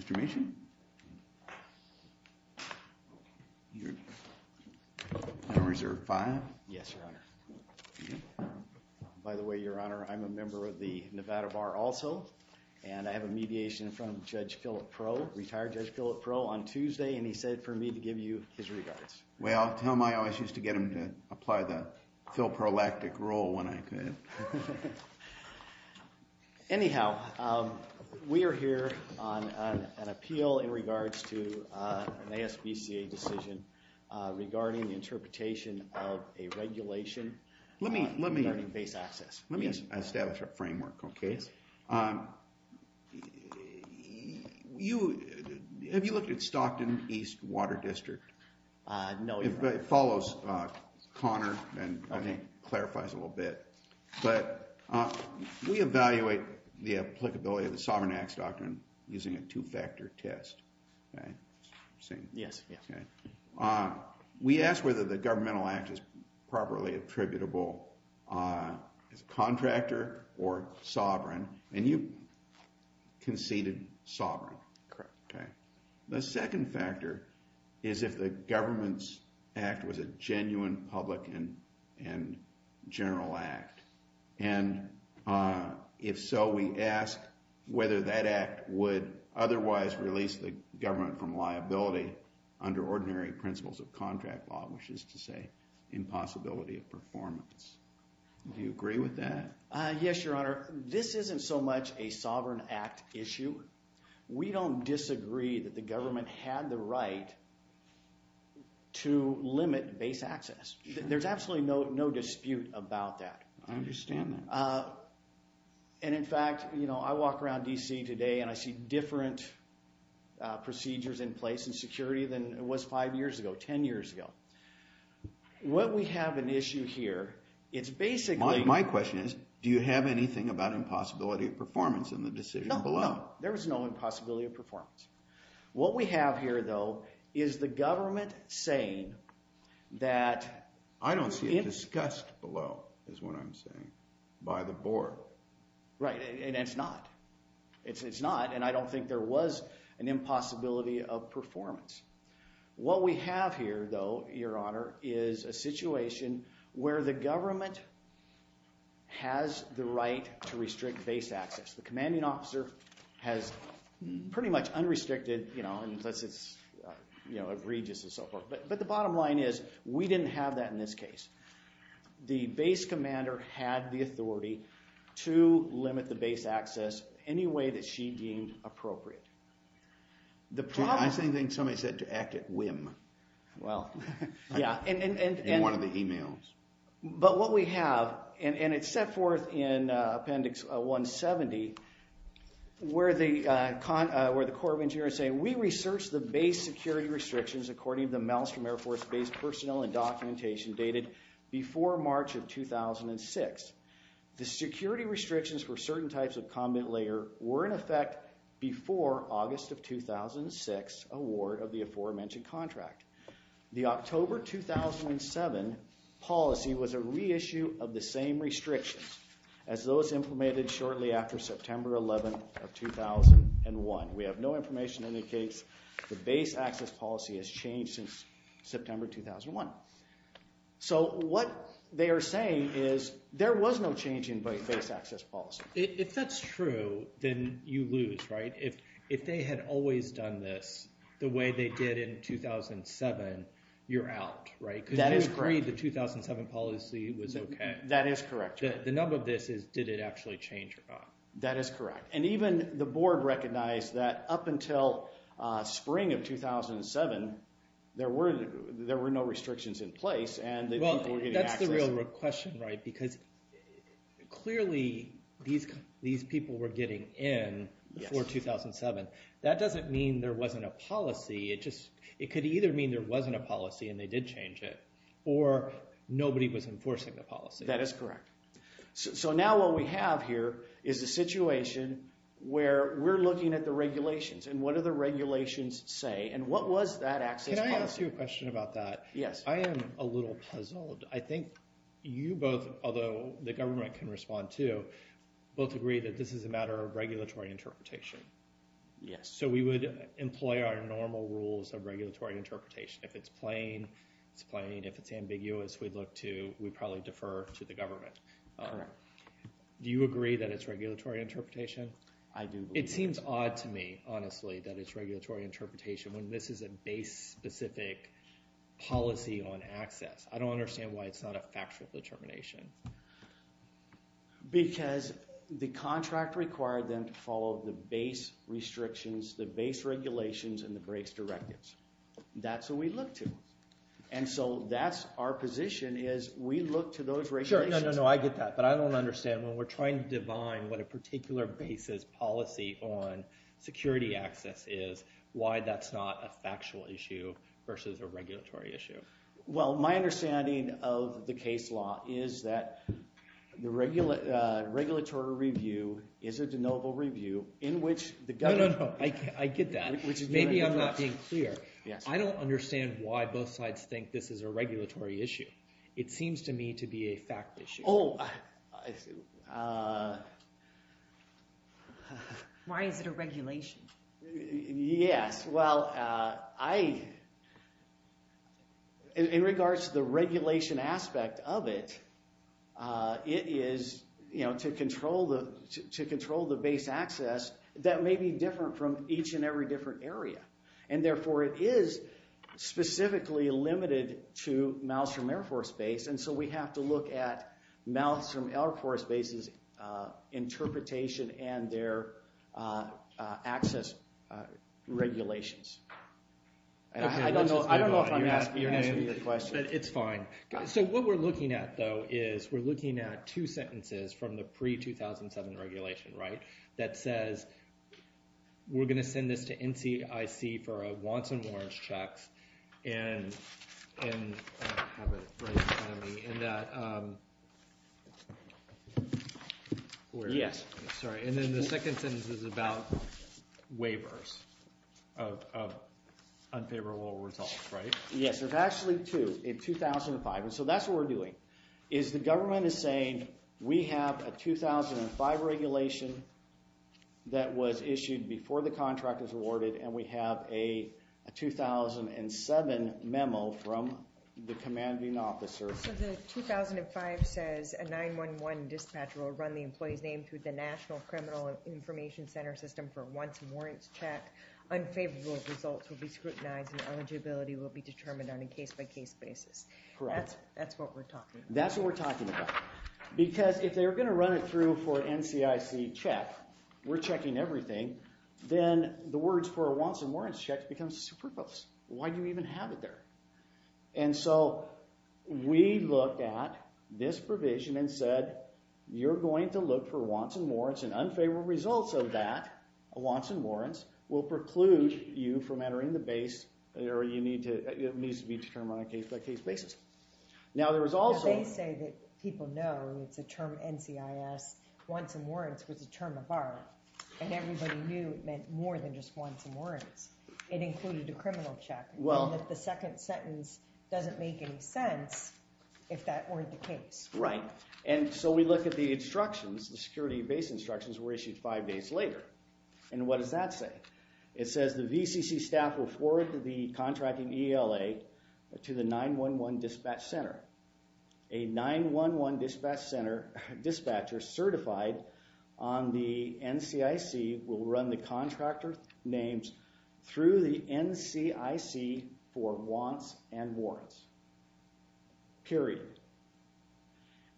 Mr. Mason, you're on reserve five. Yes, Your Honor. By the way, Your Honor, I'm a member of the Nevada Bar also. And I have a mediation in front of Judge Philip Pro, retired Judge Philip Pro, on Tuesday. And he said for me to give you his regards. Well, tell him I always used to get him to apply the Phil Prolactic rule when I could. Anyhow, we are here on an appeal in regards to an ASVCA decision regarding the interpretation of a regulation regarding base access. Let me establish a framework, OK? Yes. Have you looked at Stockton East Water District? No, Your Honor. It follows Connor and I think clarifies a little bit. But we evaluate the applicability of the Sovereign Acts Doctrine using a two-factor test. Yes, yes. We ask whether the governmental act is properly attributable as a contractor or sovereign. And you conceded sovereign, OK? The second factor is if the government's act was a genuine public and general act. And if so, we ask whether that act would otherwise release the government from liability under ordinary principles of contract law, which is to say impossibility of performance. Do you agree with that? Yes, Your Honor. This isn't so much a Sovereign Act issue. We don't disagree that the government had the right to limit base access. There's absolutely no dispute about that. I understand that. And in fact, I walk around DC today, and I see different procedures in place and security than it was five years ago, 10 years ago. What we have an issue here, it's basically- My question is, do you have anything about impossibility of performance in the decision below? There is no impossibility of performance. What we have here, though, is the government saying that- I don't see it discussed below, is what I'm saying, by the board. Right, and it's not. It's not. And I don't think there was an impossibility of performance. What we have here, though, Your Honor, is a situation where the government has the right to restrict base access. The commanding officer has pretty much unrestricted, and it's egregious and so forth. But the bottom line is, we didn't have that in this case. The base commander had the authority to limit the base access any way that she deemed appropriate. The problem- I think somebody said to act at whim in one of the emails. But what we have, and it's set forth in appendix 170, where the Corps of Engineers say, we researched the base security restrictions according to the Maelstrom Air Force base personnel and documentation dated before March of 2006. The security restrictions for certain types of combat layer were in effect before August of 2006 award of the aforementioned contract. The October 2007 policy was a reissue of the same restrictions as those implemented shortly after September 11 of 2001. We have no information indicates the base access policy has changed since September 2001. So what they are saying is, there was no change in base access policy. If that's true, then you lose, right? If they had always done this the way they did in 2007, you're out, right? Because you agreed the 2007 policy was OK. That is correct. The number of this is, did it actually change or not? That is correct. And even the board recognized that up until spring of 2007, there were no restrictions in place, and the people were getting access- These people were getting in before 2007. That doesn't mean there wasn't a policy. It could either mean there wasn't a policy and they did change it, or nobody was enforcing the policy. That is correct. So now what we have here is a situation where we're looking at the regulations. And what do the regulations say? And what was that access policy? Can I ask you a question about that? Yes. I am a little puzzled. I think you both, although the government can respond too, both agree that this is a matter of regulatory interpretation. Yes. So we would employ our normal rules of regulatory interpretation. If it's plain, it's plain. If it's ambiguous, we'd look to, we'd probably defer to the government. Do you agree that it's regulatory interpretation? I do. It seems odd to me, honestly, that it's regulatory interpretation when this is a base-specific policy on access. I don't understand why it's not a factual determination. Because the contract required them to follow the base restrictions, the base regulations, and the base directives. That's what we look to. And so that's our position, is we look to those regulations. Sure, no, no, no, I get that. But I don't understand. When we're trying to define what a particular base's policy on security access is, why that's not a factual issue versus a regulatory issue? Well, my understanding of the case law is that the regulatory review is a denotable review in which the government No, no, no, I get that. Maybe I'm not being clear. I don't understand why both sides think this is a regulatory issue. It seems to me to be a fact issue. Oh. Why is it a regulation? Yes. Well, in regards to the regulation aspect of it, it is to control the base access that may be different from each and every different area. And therefore, it is specifically limited to miles from Air Force Base. And so we have to look at miles from Air Force Base's interpretation and their access regulations. I don't know if I'm answering your question. It's fine. So what we're looking at, though, is we're looking at two sentences from the pre-2007 regulation that says, we're going to send this to NCIC for a Watson-Warren checks and have it right in front of me, and that we're going to. Yes. Sorry. And then the second sentence is about waivers of unfavorable results, right? Yes, there's actually two in 2005. And so that's what we're doing, is the government is saying, we have a 2005 regulation that was issued before the contract was awarded, and we have a 2007 memo from the commanding officer. So the 2005 says, a 911 dispatcher will run the employee's name through the National Criminal Information Center system for a Watson-Warrens check. Unfavorable results will be scrutinized and eligibility will be determined on a case-by-case basis. Correct. That's what we're talking about. That's what we're talking about. Because if they're going to run it through for NCIC check, we're checking everything, then the words for a Watson-Warrens check becomes superfluous. Why do you even have it there? And so we looked at this provision and said, you're going to look for Watson-Warrens, and unfavorable results of that Watson-Warrens will preclude you from entering the base, or it needs to be determined on a case-by-case basis. Now there is also- They say that people know, it's a term NCIS. Watson-Warrens was a term of our, and everybody knew it meant more than just Watson-Warrens. It included a criminal check, and that the second sentence doesn't make any sense if that weren't the case. Right. And so we look at the instructions, the security base instructions were issued five days later. And what does that say? It says the VCC staff will forward the contracting ELA to the 911 dispatch center. A 911 dispatcher certified on the NCIC will run the contractor names through the NCIC for Wants and Warrants, period.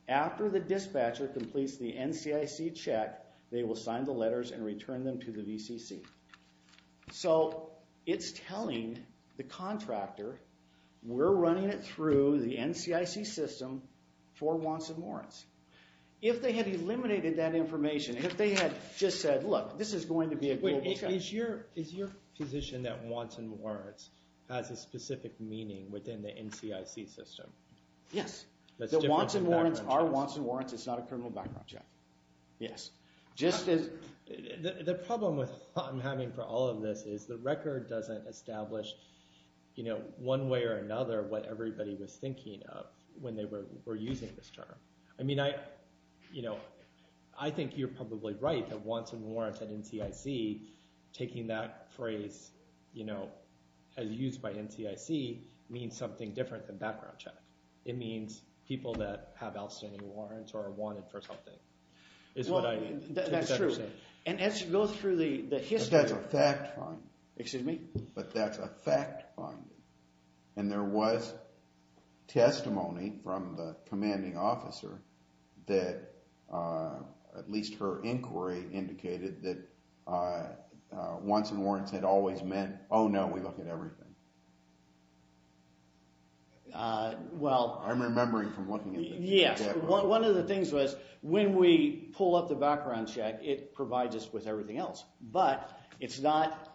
After the dispatcher completes the NCIC check, they will sign the letters and return them to the VCC. So it's telling the contractor, we're the NCIC system for Wants and Warrants. If they had eliminated that information, if they had just said, look, this is going to be a global check. Is your position that Wants and Warrants has a specific meaning within the NCIC system? Yes. The Wants and Warrants are Wants and Warrants. It's not a criminal background check. Yes. Just as- The problem with what I'm having for all of this is the record doesn't establish one way or another what everybody was thinking of when they were using this term. I mean, I think you're probably right that Wants and Warrants at NCIC, taking that phrase as used by NCIC, means something different than background check. It means people that have outstanding warrants or are wanted for something, is what I think. That's true. And as you go through the history- But that's a fact finding. Excuse me? But that's a fact finding. And there was testimony from the commanding officer that, at least her inquiry indicated, that Wants and Warrants had always meant, oh no, we look at everything. Well- I'm remembering from looking at this. Yes. One of the things was, when we pull up the background check, it provides us with everything else. But it's not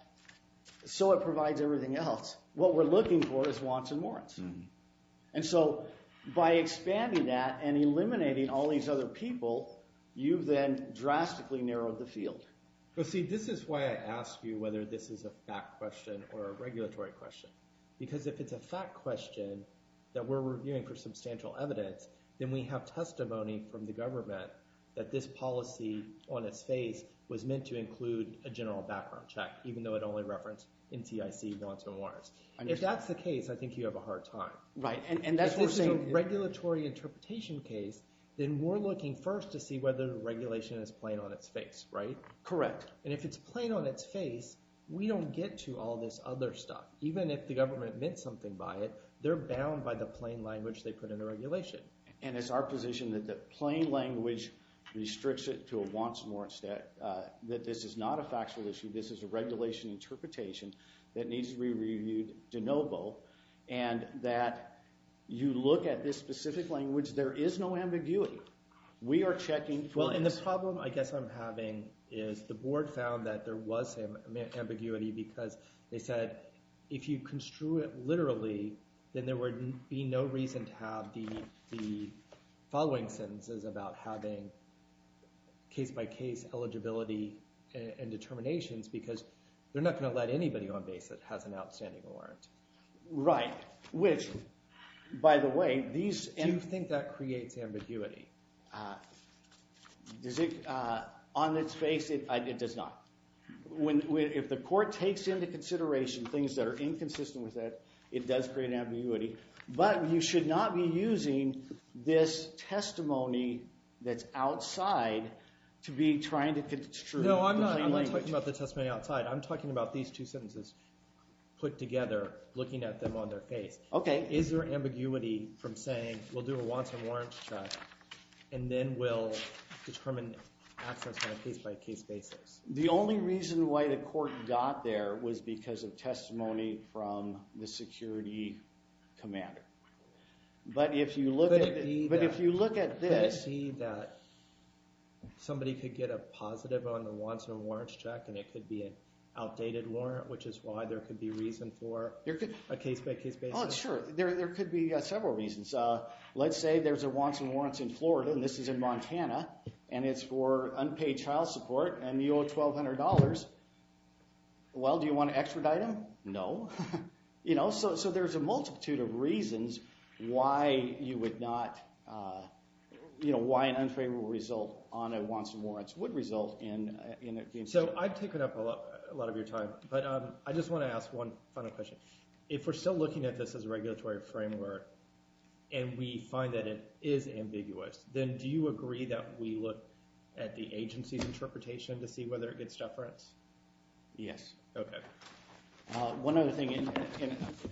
so it provides everything else. What we're looking for is Wants and Warrants. And so by expanding that and eliminating all these other people, you've then drastically narrowed the field. But see, this is why I ask you whether this is a fact question or a regulatory question. Because if it's a fact question that we're reviewing for substantial evidence, then we have testimony from the government that this policy on its face was meant to include a general background check, even though it only referenced NCIC Wants and Warrants. If that's the case, I think you have a hard time. Right. And that's what we're saying- If this is a regulatory interpretation case, then we're looking first to see whether the regulation is plain on its face, right? Correct. And if it's plain on its face, we don't get to all this other stuff. Even if the government meant something by it, they're bound by the plain language they put in the regulation. And it's our position that the plain language restricts it to a Wants and Warrants that this is not a factual issue. This is a regulation interpretation that needs to be reviewed de novo. And that you look at this specific language, there is no ambiguity. We are checking for this. Well, and the problem I guess I'm having is the board found that there was ambiguity because they said if you construe it literally, then there would be no reason to have the following sentences about having case-by-case eligibility and determinations because they're not going to let anybody on base that has an outstanding warrant. Right. Which, by the way, these- Do you think that creates ambiguity? On its face, it does not. If the court takes into consideration things that are inconsistent with it, it does create ambiguity. But you should not be using this testimony that's outside to be trying to construe the plain language. No, I'm not talking about the testimony outside. I'm talking about these two sentences put together, looking at them on their face. Is there ambiguity from saying, we'll do a Wants and Warrants check, and then we'll determine access on a case-by-case basis? The only reason why the court got there was because of testimony from the security commander. But if you look at this- Could it be that somebody could get a positive on the Wants and Warrants check, and it could be an outdated warrant, which is why there could be reason for a case-by-case basis? Oh, sure. There could be several reasons. Let's say there's a Wants and Warrants in Florida, and this is in Montana. And it's for unpaid child support, and you owe $1,200. Well, do you want to extradite him? No. So there's a multitude of reasons why an unfavorable result on a Wants and Warrants would result in it being sued. So I've taken up a lot of your time, but I just want to ask one final question. If we're still looking at this as a regulatory framework, and we find that it is ambiguous, then do you agree that we look at the agency's interpretation to see whether it gets stuff for us? Yes. OK. One other thing, and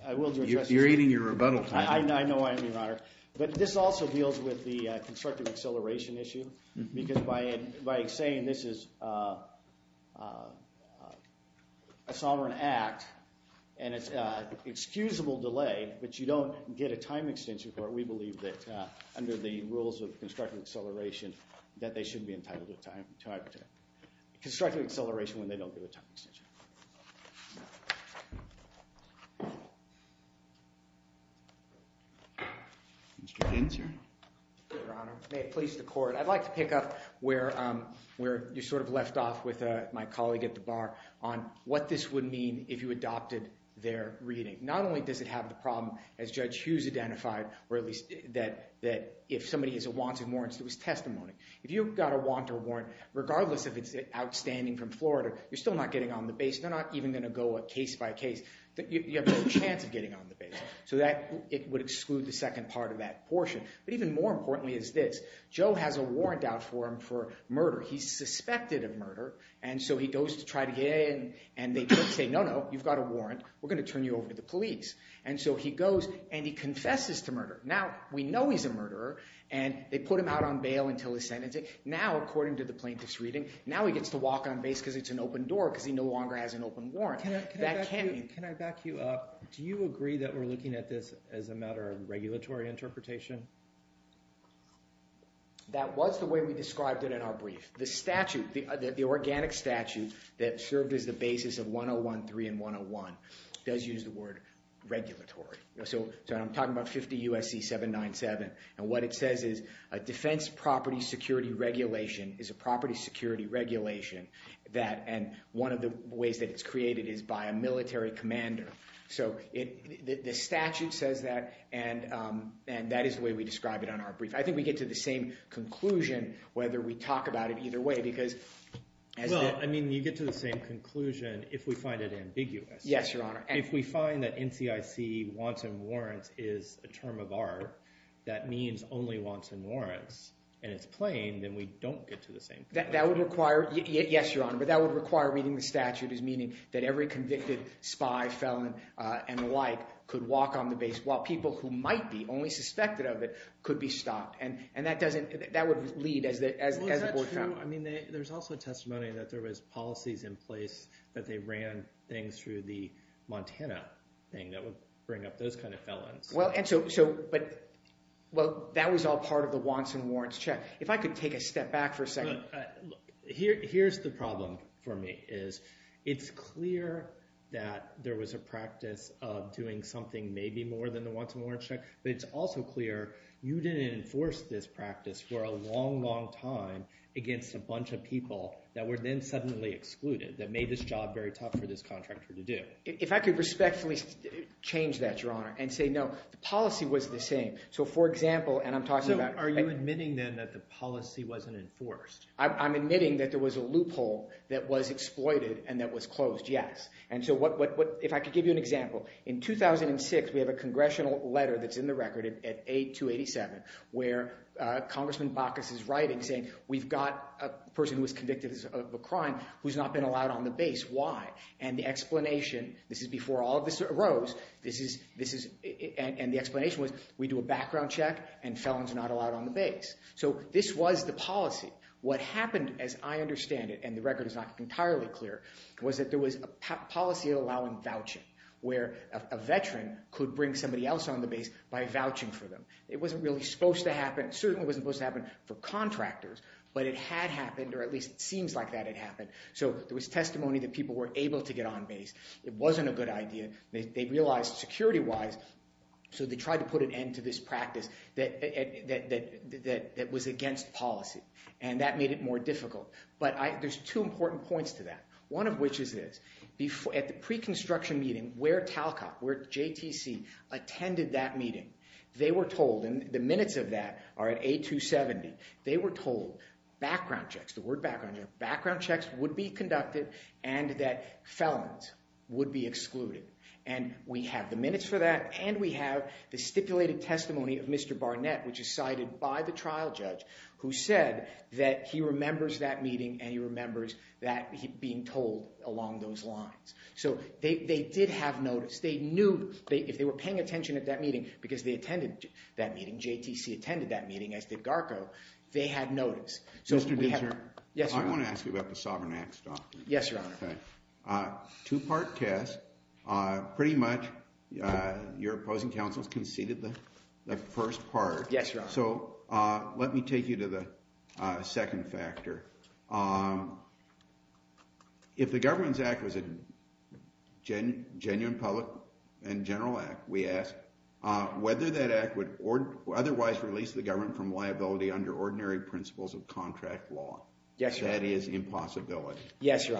I will address this. You're eating your rebuttal time. I know I am, Your Honor. But this also deals with the constructive acceleration issue, because by saying this is a sovereign act, and it's excusable delay, but you don't get a time extension for it, we believe that under the rules of constructive acceleration that they shouldn't be entitled to time extension. Constructive acceleration when they don't get a time extension. Mr. Ginsburg. Your Honor, may it please the court, I'd like to pick up where you sort of left off with my colleague at the bar on what this would mean if you adopted their reading. Not only does it have the problem, as Judge Hughes identified, that if somebody has a Wants and Warrants, it was testimony. If you've got a Wants or Warrant, regardless if it's outstanding from Florida, you're still not getting on the base. They're not even going to go case by case. You have no chance of getting on the base. So it would exclude the second part of that portion. But even more importantly is this. Joe has a warrant out for him for murder. He's suspected of murder. And so he goes to try to get in, and they say, no, no. You've got a warrant. We're going to turn you over to the police. And so he goes, and he confesses to murder. Now, we know he's a murderer. And they put him out on bail until his sentencing. Now, according to the plaintiff's reading, now he gets to walk on base because it's an open door because he no longer has an open warrant. That can't be. Can I back you up? Do you agree that we're looking at this as a matter of regulatory interpretation? That was the way we described it in our brief. The statute, the organic statute that served as the basis of 101.3 and 101 does use the word regulatory. So I'm talking about 50 USC 797. And what it says is, a defense property security regulation is a property security regulation that, and one of the ways that it's created is by a military commander. So the statute says that. And that is the way we describe it on our brief. I think we get to the same conclusion whether we talk about it either way, because as it is. Well, I mean, you get to the same conclusion if we find it ambiguous. Yes, Your Honor. If we find that NCIC wanton warrants is a term of art, that means only wanton warrants. And it's plain, then we don't get to the same thing. That would require, yes, Your Honor. But that would require reading the statute as meaning that every convicted spy, felon, and the like could walk on the base, while people who might be only suspected of it could be stopped. And that doesn't, that would lead as the board found. I mean, there's also testimony that there was policies in place that they ran things through the Montana thing that would bring up those kind of felons. Well, and so, but, well, that was all part of the wanton warrants check. If I could take a step back for a second. Here's the problem for me, is it's clear that there was a practice of doing something maybe more than the wanton warrants check. But it's also clear you didn't enforce this practice for a long, long time against a bunch of people that were then suddenly excluded, that made this job very tough for this contractor to do. If I could respectfully change that, Your Honor, and say, no, the policy was the same. So for example, and I'm talking about. So are you admitting, then, that the policy wasn't enforced? I'm admitting that there was a loophole that was exploited and that was closed, yes. And so if I could give you an example. In 2006, we have a congressional letter that's in the record at A287, where Congressman Bacchus is writing, saying, we've got a person who is convicted of a crime who's not been allowed on the base. Why? And the explanation, this is before all of this arose. And the explanation was, we do a background check and felons are not allowed on the base. So this was the policy. What happened, as I understand it, and the record is not entirely clear, was that there was a policy allowing vouching, where a veteran could bring somebody else on the base by vouching for them. It wasn't really supposed to happen. It certainly wasn't supposed to happen for contractors. But it had happened, or at least it seems like that had happened. So there was testimony that people were able to get on base. It wasn't a good idea. They realized, security-wise, so they tried to put an end to this practice that was against policy. And that made it more difficult. But there's two important points to that, one of which is this. At the pre-construction meeting, where Talcott, where JTC, attended that meeting, they were told, and the minutes of that are at A270, they were told, background checks, the word background checks, would be conducted and that felons would be excluded. And we have the minutes for that, and we have the stipulated testimony of Mr. Barnett, which is cited by the trial judge, who said that he remembers that meeting and he remembers that being told along those lines. So they did have notice. They knew, if they were paying attention at that meeting, because they attended that meeting, JTC attended that meeting, as did GARCO, they had notice. So we have- Mr. Deser, I want to ask you about the Sovereign Act stuff. Yes, Your Honor. Two-part test. Pretty much, your opposing counsels conceded the first part. Yes, Your Honor. So let me take you to the second factor. If the Governments Act was a genuine public and general act, we ask, whether that act would otherwise release the government from liability under ordinary principles of contract law. Yes, Your Honor. That is impossibility. Yes, Your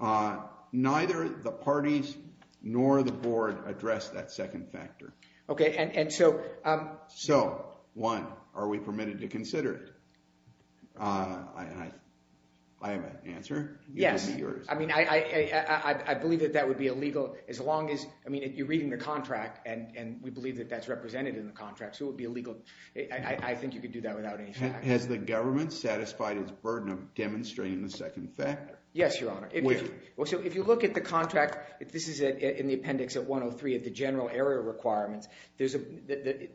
Honor. Neither the parties nor the board address that second factor. OK, and so- So, one, are we permitted to consider it? I have an answer. Yes. I mean, I believe that that would be illegal, as long as, I mean, you're reading the contract, and we believe that that's represented in the contract, so it would be illegal. I think you could do that without any fact. Has the government satisfied its burden of demonstrating the second factor? Yes, Your Honor. Where? Well, so if you look at the contract, this is in the appendix at 103, at the general area requirements, there's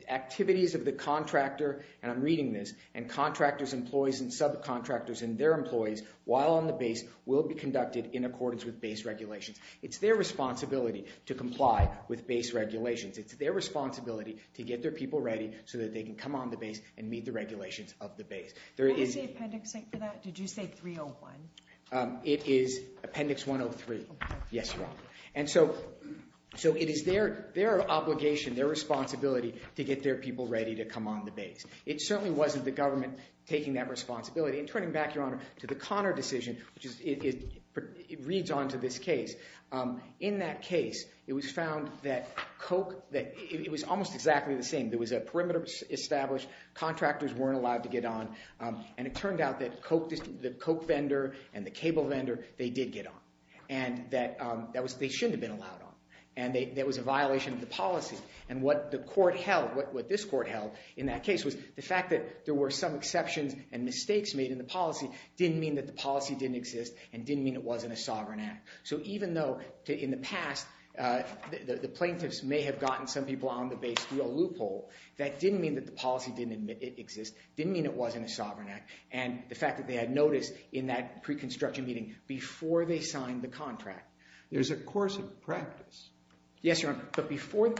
activities of the contractor, and I'm reading this, and contractors, employees, and subcontractors, and their employees, while on the base, will be conducted in accordance with base regulations. It's their responsibility to comply with base regulations. It's their responsibility to get their people ready, so that they can come on the base and meet the regulations of the base. What is the appendix for that? Did you say 301? It is appendix 103. Yes, Your Honor. And so it is their obligation, their responsibility, to get their people ready to come on the base. It certainly wasn't the government taking that responsibility, and turning back, Your Honor, to the Conner decision, which reads on to this case. In that case, it was found that Coke, that it was almost exactly the same. There was a perimeter established. Contractors weren't allowed to get on. And it turned out that the Coke vendor and the cable vendor, they did get on. And that they shouldn't have been allowed on. And that was a violation of the policy. And what the court held, what this court held in that case, was the fact that there were some exceptions and mistakes made in the policy didn't mean that the policy didn't exist and didn't mean it wasn't a sovereign act. So even though, in the past, the plaintiffs may have gotten some people on the base through a loophole, that didn't mean that the policy didn't exist, didn't mean it wasn't a sovereign act. And the fact that they had notice in that pre-construction meeting before they signed the contract. There's a course of practice. Yes, Your Honor. But before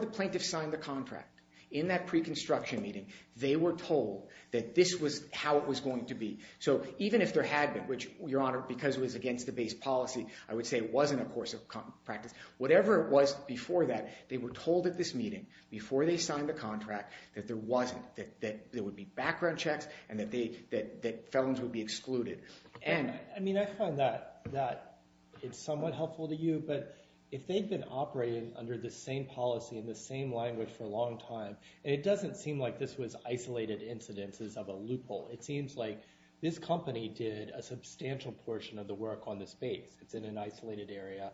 the plaintiffs signed the contract, in that pre-construction meeting, they were told that this was how it was going to be. So even if there had been, which, Your Honor, because it was against the base policy, I would say it wasn't a course of practice. Whatever it was before that, they were told at this meeting, before they signed the contract, that there wasn't, that there would be background checks and that felons would be excluded. And I mean, I find that it's somewhat helpful to you. But if they've been operating under the same policy in the same language for a long time, it doesn't seem like this was isolated incidences of a loophole. It seems like this company did a substantial portion of the work on this base. It's in an isolated area.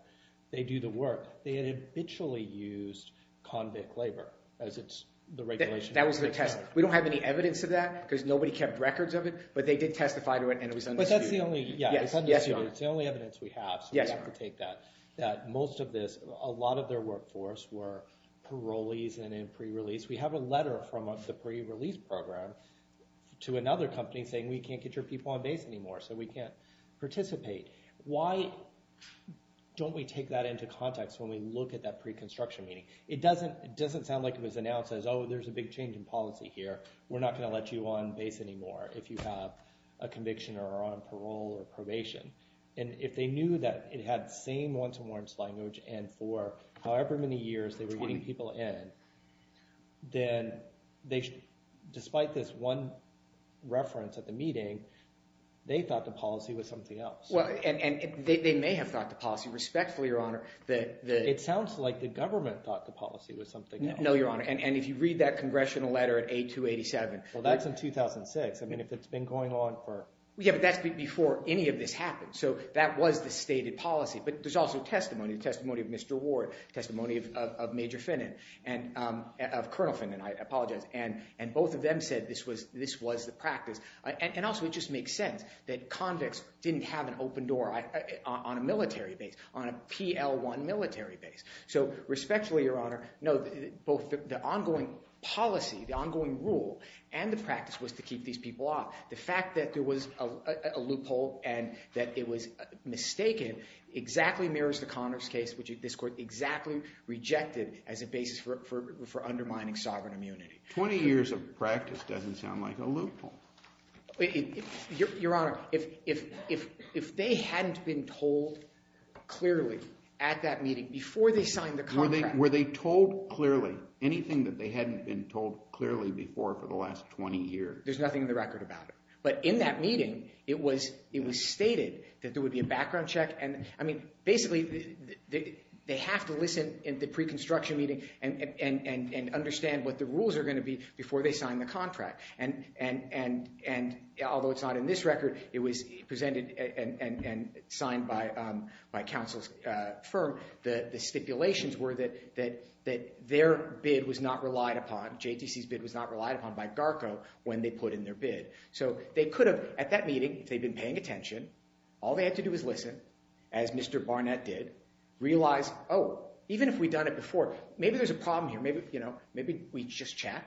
They do the work. They had habitually used convict labor as it's the regulation. That was their testimony. We don't have any evidence of that, because nobody kept records of it. But they did testify to it, and it was understood. But that's the only, yeah, it's understood. It's the only evidence we have. So we have to take that. That most of this, a lot of their workforce were parolees and in pre-release. We have a letter from the pre-release program to another company saying, we can't get your people on base anymore, so we can't participate. Why don't we take that into context when we look at that pre-construction meeting? It doesn't sound like it was announced as, oh, there's a big change in policy here. We're not going to let you on base anymore if you have a conviction or are on parole or probation. And if they knew that it had the same once and once language and for however many years they were getting people in, then despite this one reference at the meeting, they thought the policy was something else. And they may have thought the policy respectfully, Your Honor. It sounds like the government thought the policy was something else. No, Your Honor. And if you read that congressional letter at A287. Well, that's in 2006. I mean, if it's been going on for. Yeah, but that's before any of this happened. So that was the stated policy. But there's also testimony. Testimony of Mr. Ward. Testimony of Major Finnan, of Colonel Finnan, I apologize. And both of them said this was the practice. And also, it just makes sense that convicts didn't have an open door on a military base, on a PL-1 military base. So respectfully, Your Honor, no, both the ongoing policy, the ongoing rule, and the practice was to keep these people off. The fact that there was a loophole and that it was mistaken exactly mirrors the Connors case, which this court exactly rejected as a basis for undermining sovereign immunity. 20 years of practice doesn't sound like a loophole. Your Honor, if they hadn't been told clearly at that meeting before they signed the contract. Were they told clearly? Anything that they hadn't been told clearly before for the last 20 years? There's nothing in the record about it. But in that meeting, it was stated that there would be a background check. And I mean, basically, they have to listen in the pre-construction meeting and understand what the rules are going to be before they sign the contract. And although it's not in this record, it was presented and signed by counsel's firm. The stipulations were that their bid was not relied upon, JTC's bid was not relied upon by GARCO when they put in their bid. So they could have, at that meeting, if they'd been paying attention, all they had to do is listen, as Mr. Barnett did, realize, oh, even if we'd done it before, maybe there's a problem here. Maybe we just check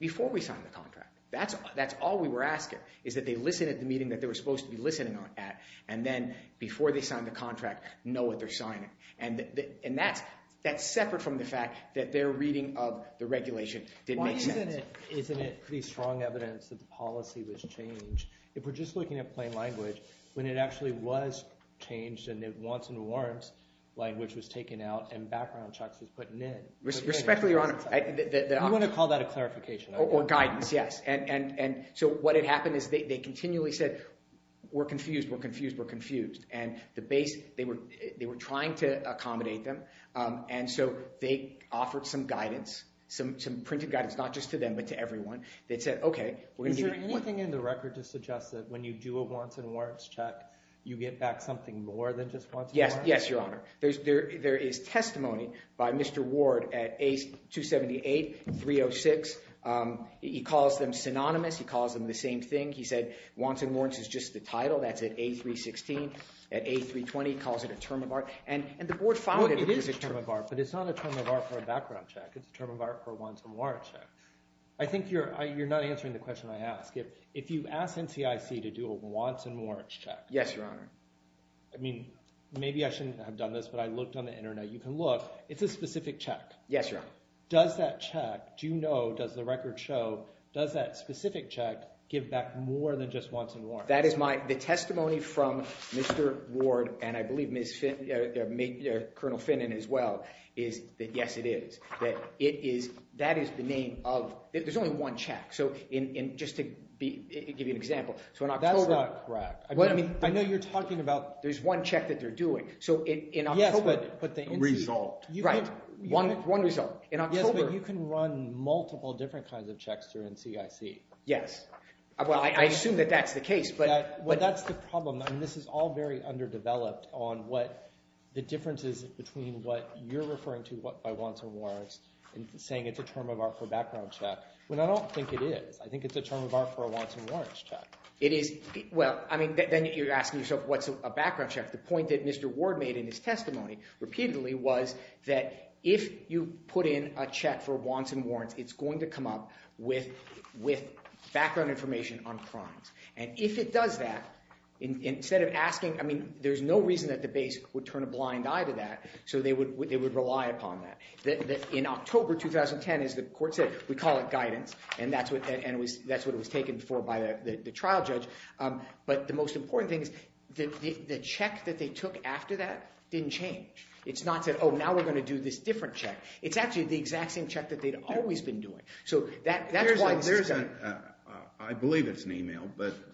before we sign the contract. That's all we were asking, is that they listen at the meeting that they were supposed to be listening at. And then before they sign the contract, know what they're signing. And that's separate from the fact that their reading of the regulation didn't make sense. Isn't it pretty strong evidence that the policy was changed? If we're just looking at plain language, when it actually was changed and the wants and warrants language was taken out and background checks was put in. Respectfully, Your Honor, I want to call that a clarification. Or guidance, yes. And so what had happened is they continually said, we're confused, we're confused, we're confused. And the base, they were trying to accommodate them. And so they offered some guidance, some printed guidance, not just to them, but to everyone. They said, OK, we're going to do it. Is there anything in the record to suggest that when you do a wants and warrants check, you get back something more than just wants and warrants? Yes, Your Honor. There is testimony by Mr. Ward at A278, 306. He calls them synonymous. He calls them the same thing. He said, wants and warrants is just the title. That's at A316. At A320, he calls it a term of art. And the board followed it as a term of art. But it's not a term of art for a background check. It's a term of art for a wants and warrants check. I think you're not answering the question I asked. If you ask NCIC to do a wants and warrants check, I mean, maybe I shouldn't have done this, but I looked on the internet. You can look. It's a specific check. Yes, Your Honor. Does that check, do you know, does the record show, does that specific check give back more than just wants and warrants? The testimony from Mr. Ward, and I believe Colonel Finnan as well, is that, yes, it is. That is the name of, there's only one check. So just to give you an example, so in October. That's not correct. I know you're talking about. There's one check that they're doing. So in October. Yes, but the result. Right, one result. In October. Yes, but you can run multiple different kinds of checks through NCIC. Yes. Well, I assume that that's the case. Well, that's the problem. This is all very underdeveloped on what the differences between what you're referring to by wants and warrants and saying it's a term of art for a background check, when I don't think it is. I think it's a term of art for a wants and warrants check. It is. Well, I mean, then you're asking yourself, what's a background check? The point that Mr. Ward made in his testimony repeatedly was that if you put in a check for wants and warrants, it's going to come up with background information on crimes. And if it does that, instead of asking, I mean, there's no reason that the base would turn a blind eye to that. So they would rely upon that. In October 2010, as the court said, we call it guidance. And that's what it was taken for by the trial judge. But the most important thing is the check that they took after that didn't change. It's not said, oh, now we're going to do this different check. It's actually the exact same check that they'd always been doing. So that's why this is going to happen. I believe it's an email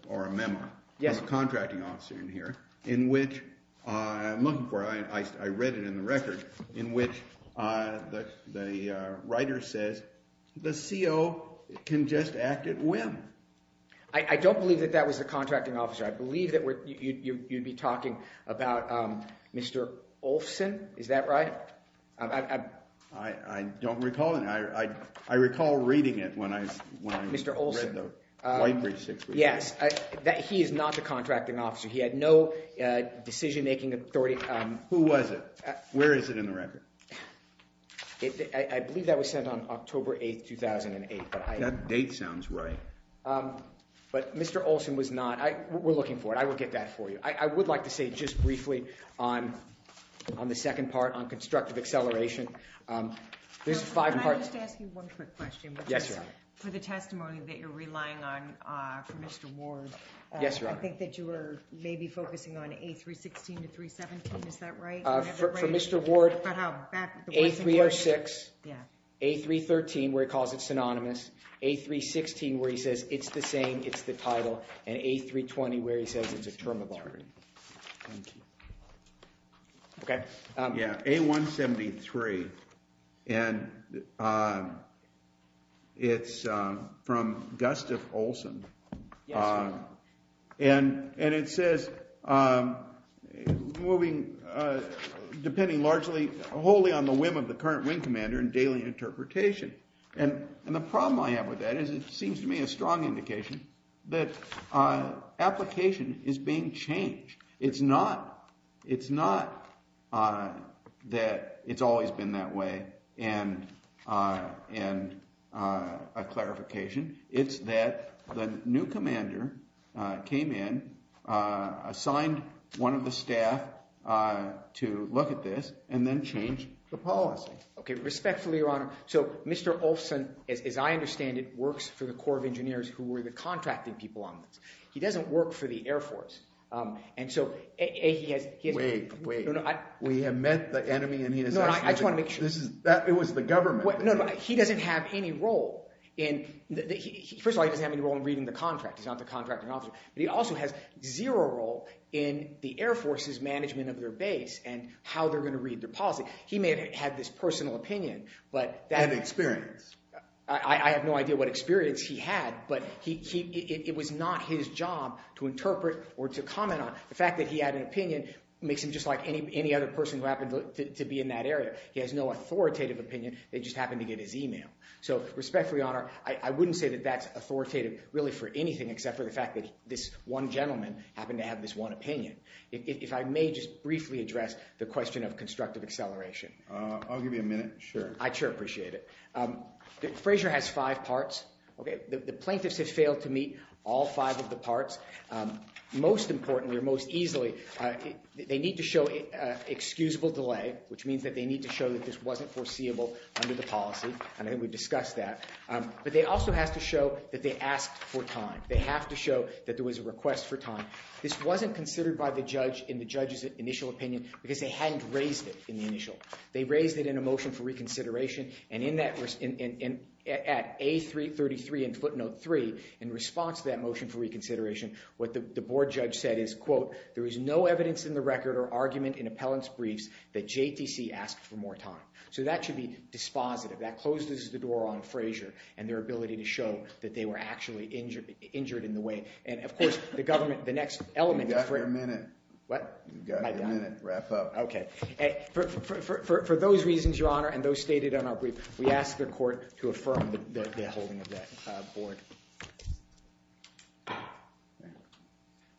or a memo from the contracting officer in here, in which I'm looking for. I read it in the record, in which the writer says, the CO can just act at whim. I don't believe that that was the contracting officer. I believe that you'd be talking about Mr. Olson. Is that right? I don't recall. And I recall reading it when I read the Whitebridge 615. Yes. He is not the contracting officer. He had no decision-making authority. Who was it? Where is it in the record? I believe that was sent on October 8, 2008. That date sounds right. But Mr. Olson was not. We're looking for it. I will get that for you. I would like to say, just briefly, on the second part, on constructive acceleration, there's five parts. Can I just ask you one quick question? Yes, Your Honor. For the testimony that you're relying on for Mr. Ward, I think that you were maybe focusing on A316 to 317. Is that right? For Mr. Ward, A306, A313, where he calls it synonymous, A316, where he says, it's the same, it's the title, and A320, where he says it's a term of authority. Thank you. OK. Yeah, A173. And it's from Gustav Olson. And it says, depending largely wholly on the whim of the current wing commander and daily interpretation. And the problem I have with that is it seems to me a strong indication that application is being changed. It's not that it's always been that way in a clarification. It's that the new commander came in, assigned one of the staff to look at this, and then changed the policy. OK, respectfully, Your Honor. So Mr. Olson, as I understand it, works for the Corps of Engineers who were the contracting people on this. He doesn't work for the Air Force. And so, A, he has, he has, Wait, wait. We have met the enemy, and he has actually, No, I just want to make sure. It was the government. No, no, he doesn't have any role in, first of all, he doesn't have any role in reading the contract. He's not the contracting officer. But he also has zero role in the Air Force's management of their base and how they're going to read their policy. He may have had this personal opinion, but that, And experience. I have no idea what experience he had, but it was not his job to interpret or to comment on. The fact that he had an opinion makes him just like any other person who happened to be in that area. He has no authoritative opinion. They just happened to get his email. So respectfully, Your Honor, I wouldn't say that that's authoritative really for anything except for the fact that this one gentleman happened to have this one opinion. If I may just briefly address the question of constructive acceleration. I'll give you a minute, sure. I sure appreciate it. Frazier has five parts. The plaintiffs have failed to meet all five of the parts. Most importantly, or most easily, they need to show excusable delay, which means that they need to show that this wasn't foreseeable under the policy, and I think we discussed that. But they also have to show that they asked for time. They have to show that there was a request for time. This wasn't considered by the judge in the judge's initial opinion because they hadn't raised it in the initial. They raised it in a motion for reconsideration, and in that, at A333 and footnote three, in response to that motion for reconsideration, what the board judge said is, quote, there is no evidence in the record or argument in appellant's briefs that JTC asked for more time. So that should be dispositive. That closes the door on Frazier and their ability to show that they were actually injured in the way. And of course, the government, the next element of Frazier. You've got your minute. What? You've got your minute. Wrap up. OK. For those reasons, Your Honor, and those stated on our brief, we ask the court to affirm the holding of that board.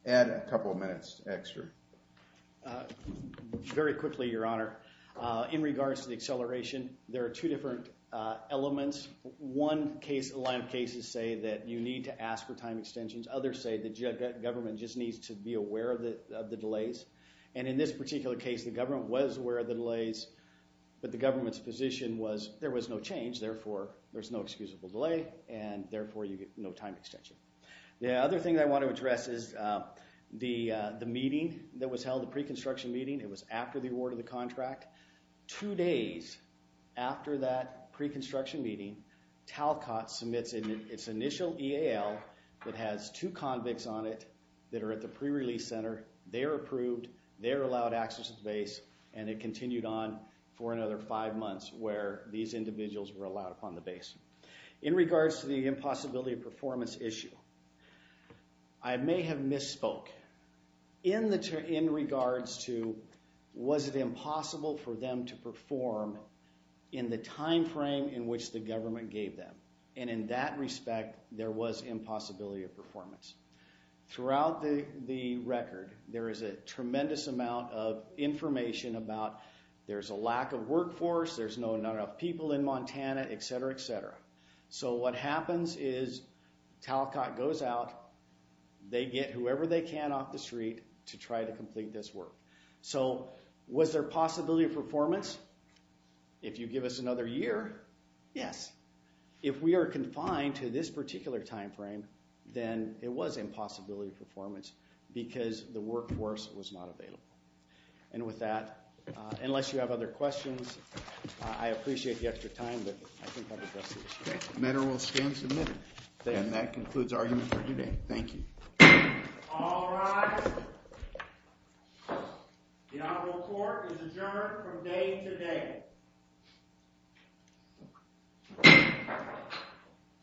Add a couple of minutes extra. Very quickly, Your Honor. In regards to the acceleration, there are two different elements. One case, a line of cases, say that you need to ask for time extensions. Others say the government just needs to be aware of the delays. And in this particular case, the government was aware of the delays, but the government's position was there was no change. Therefore, there's no excusable delay, and therefore, you get no time extension. The other thing I want to address is the meeting that was held, the pre-construction meeting. It was after the award of the contract. Two days after that pre-construction meeting, Talcott submits its initial EAL that has two convicts on it that are at the pre-release center. They are approved. They are allowed access to the base. And it continued on for another five months where these individuals were allowed upon the base. In regards to the impossibility of performance issue, I may have misspoke. In regards to was it impossible for them to perform in the time frame in which the government gave them. And in that respect, there was impossibility of performance. Throughout the record, there is a tremendous amount of information about there's a lack of workforce, there's not enough people in Montana, et cetera, et cetera. So what happens is Talcott goes out. They get whoever they can off the street to try to complete this work. So was there possibility of performance? If you give us another year, yes. If we are confined to this particular time frame, then it was impossibility of performance because the workforce was not available. And with that, unless you have other questions, I appreciate the extra time. But I think I've addressed the issue. The matter will stand submitted. And that concludes our hearing for today. Thank you. All rise. The honorable court is adjourned from day to day.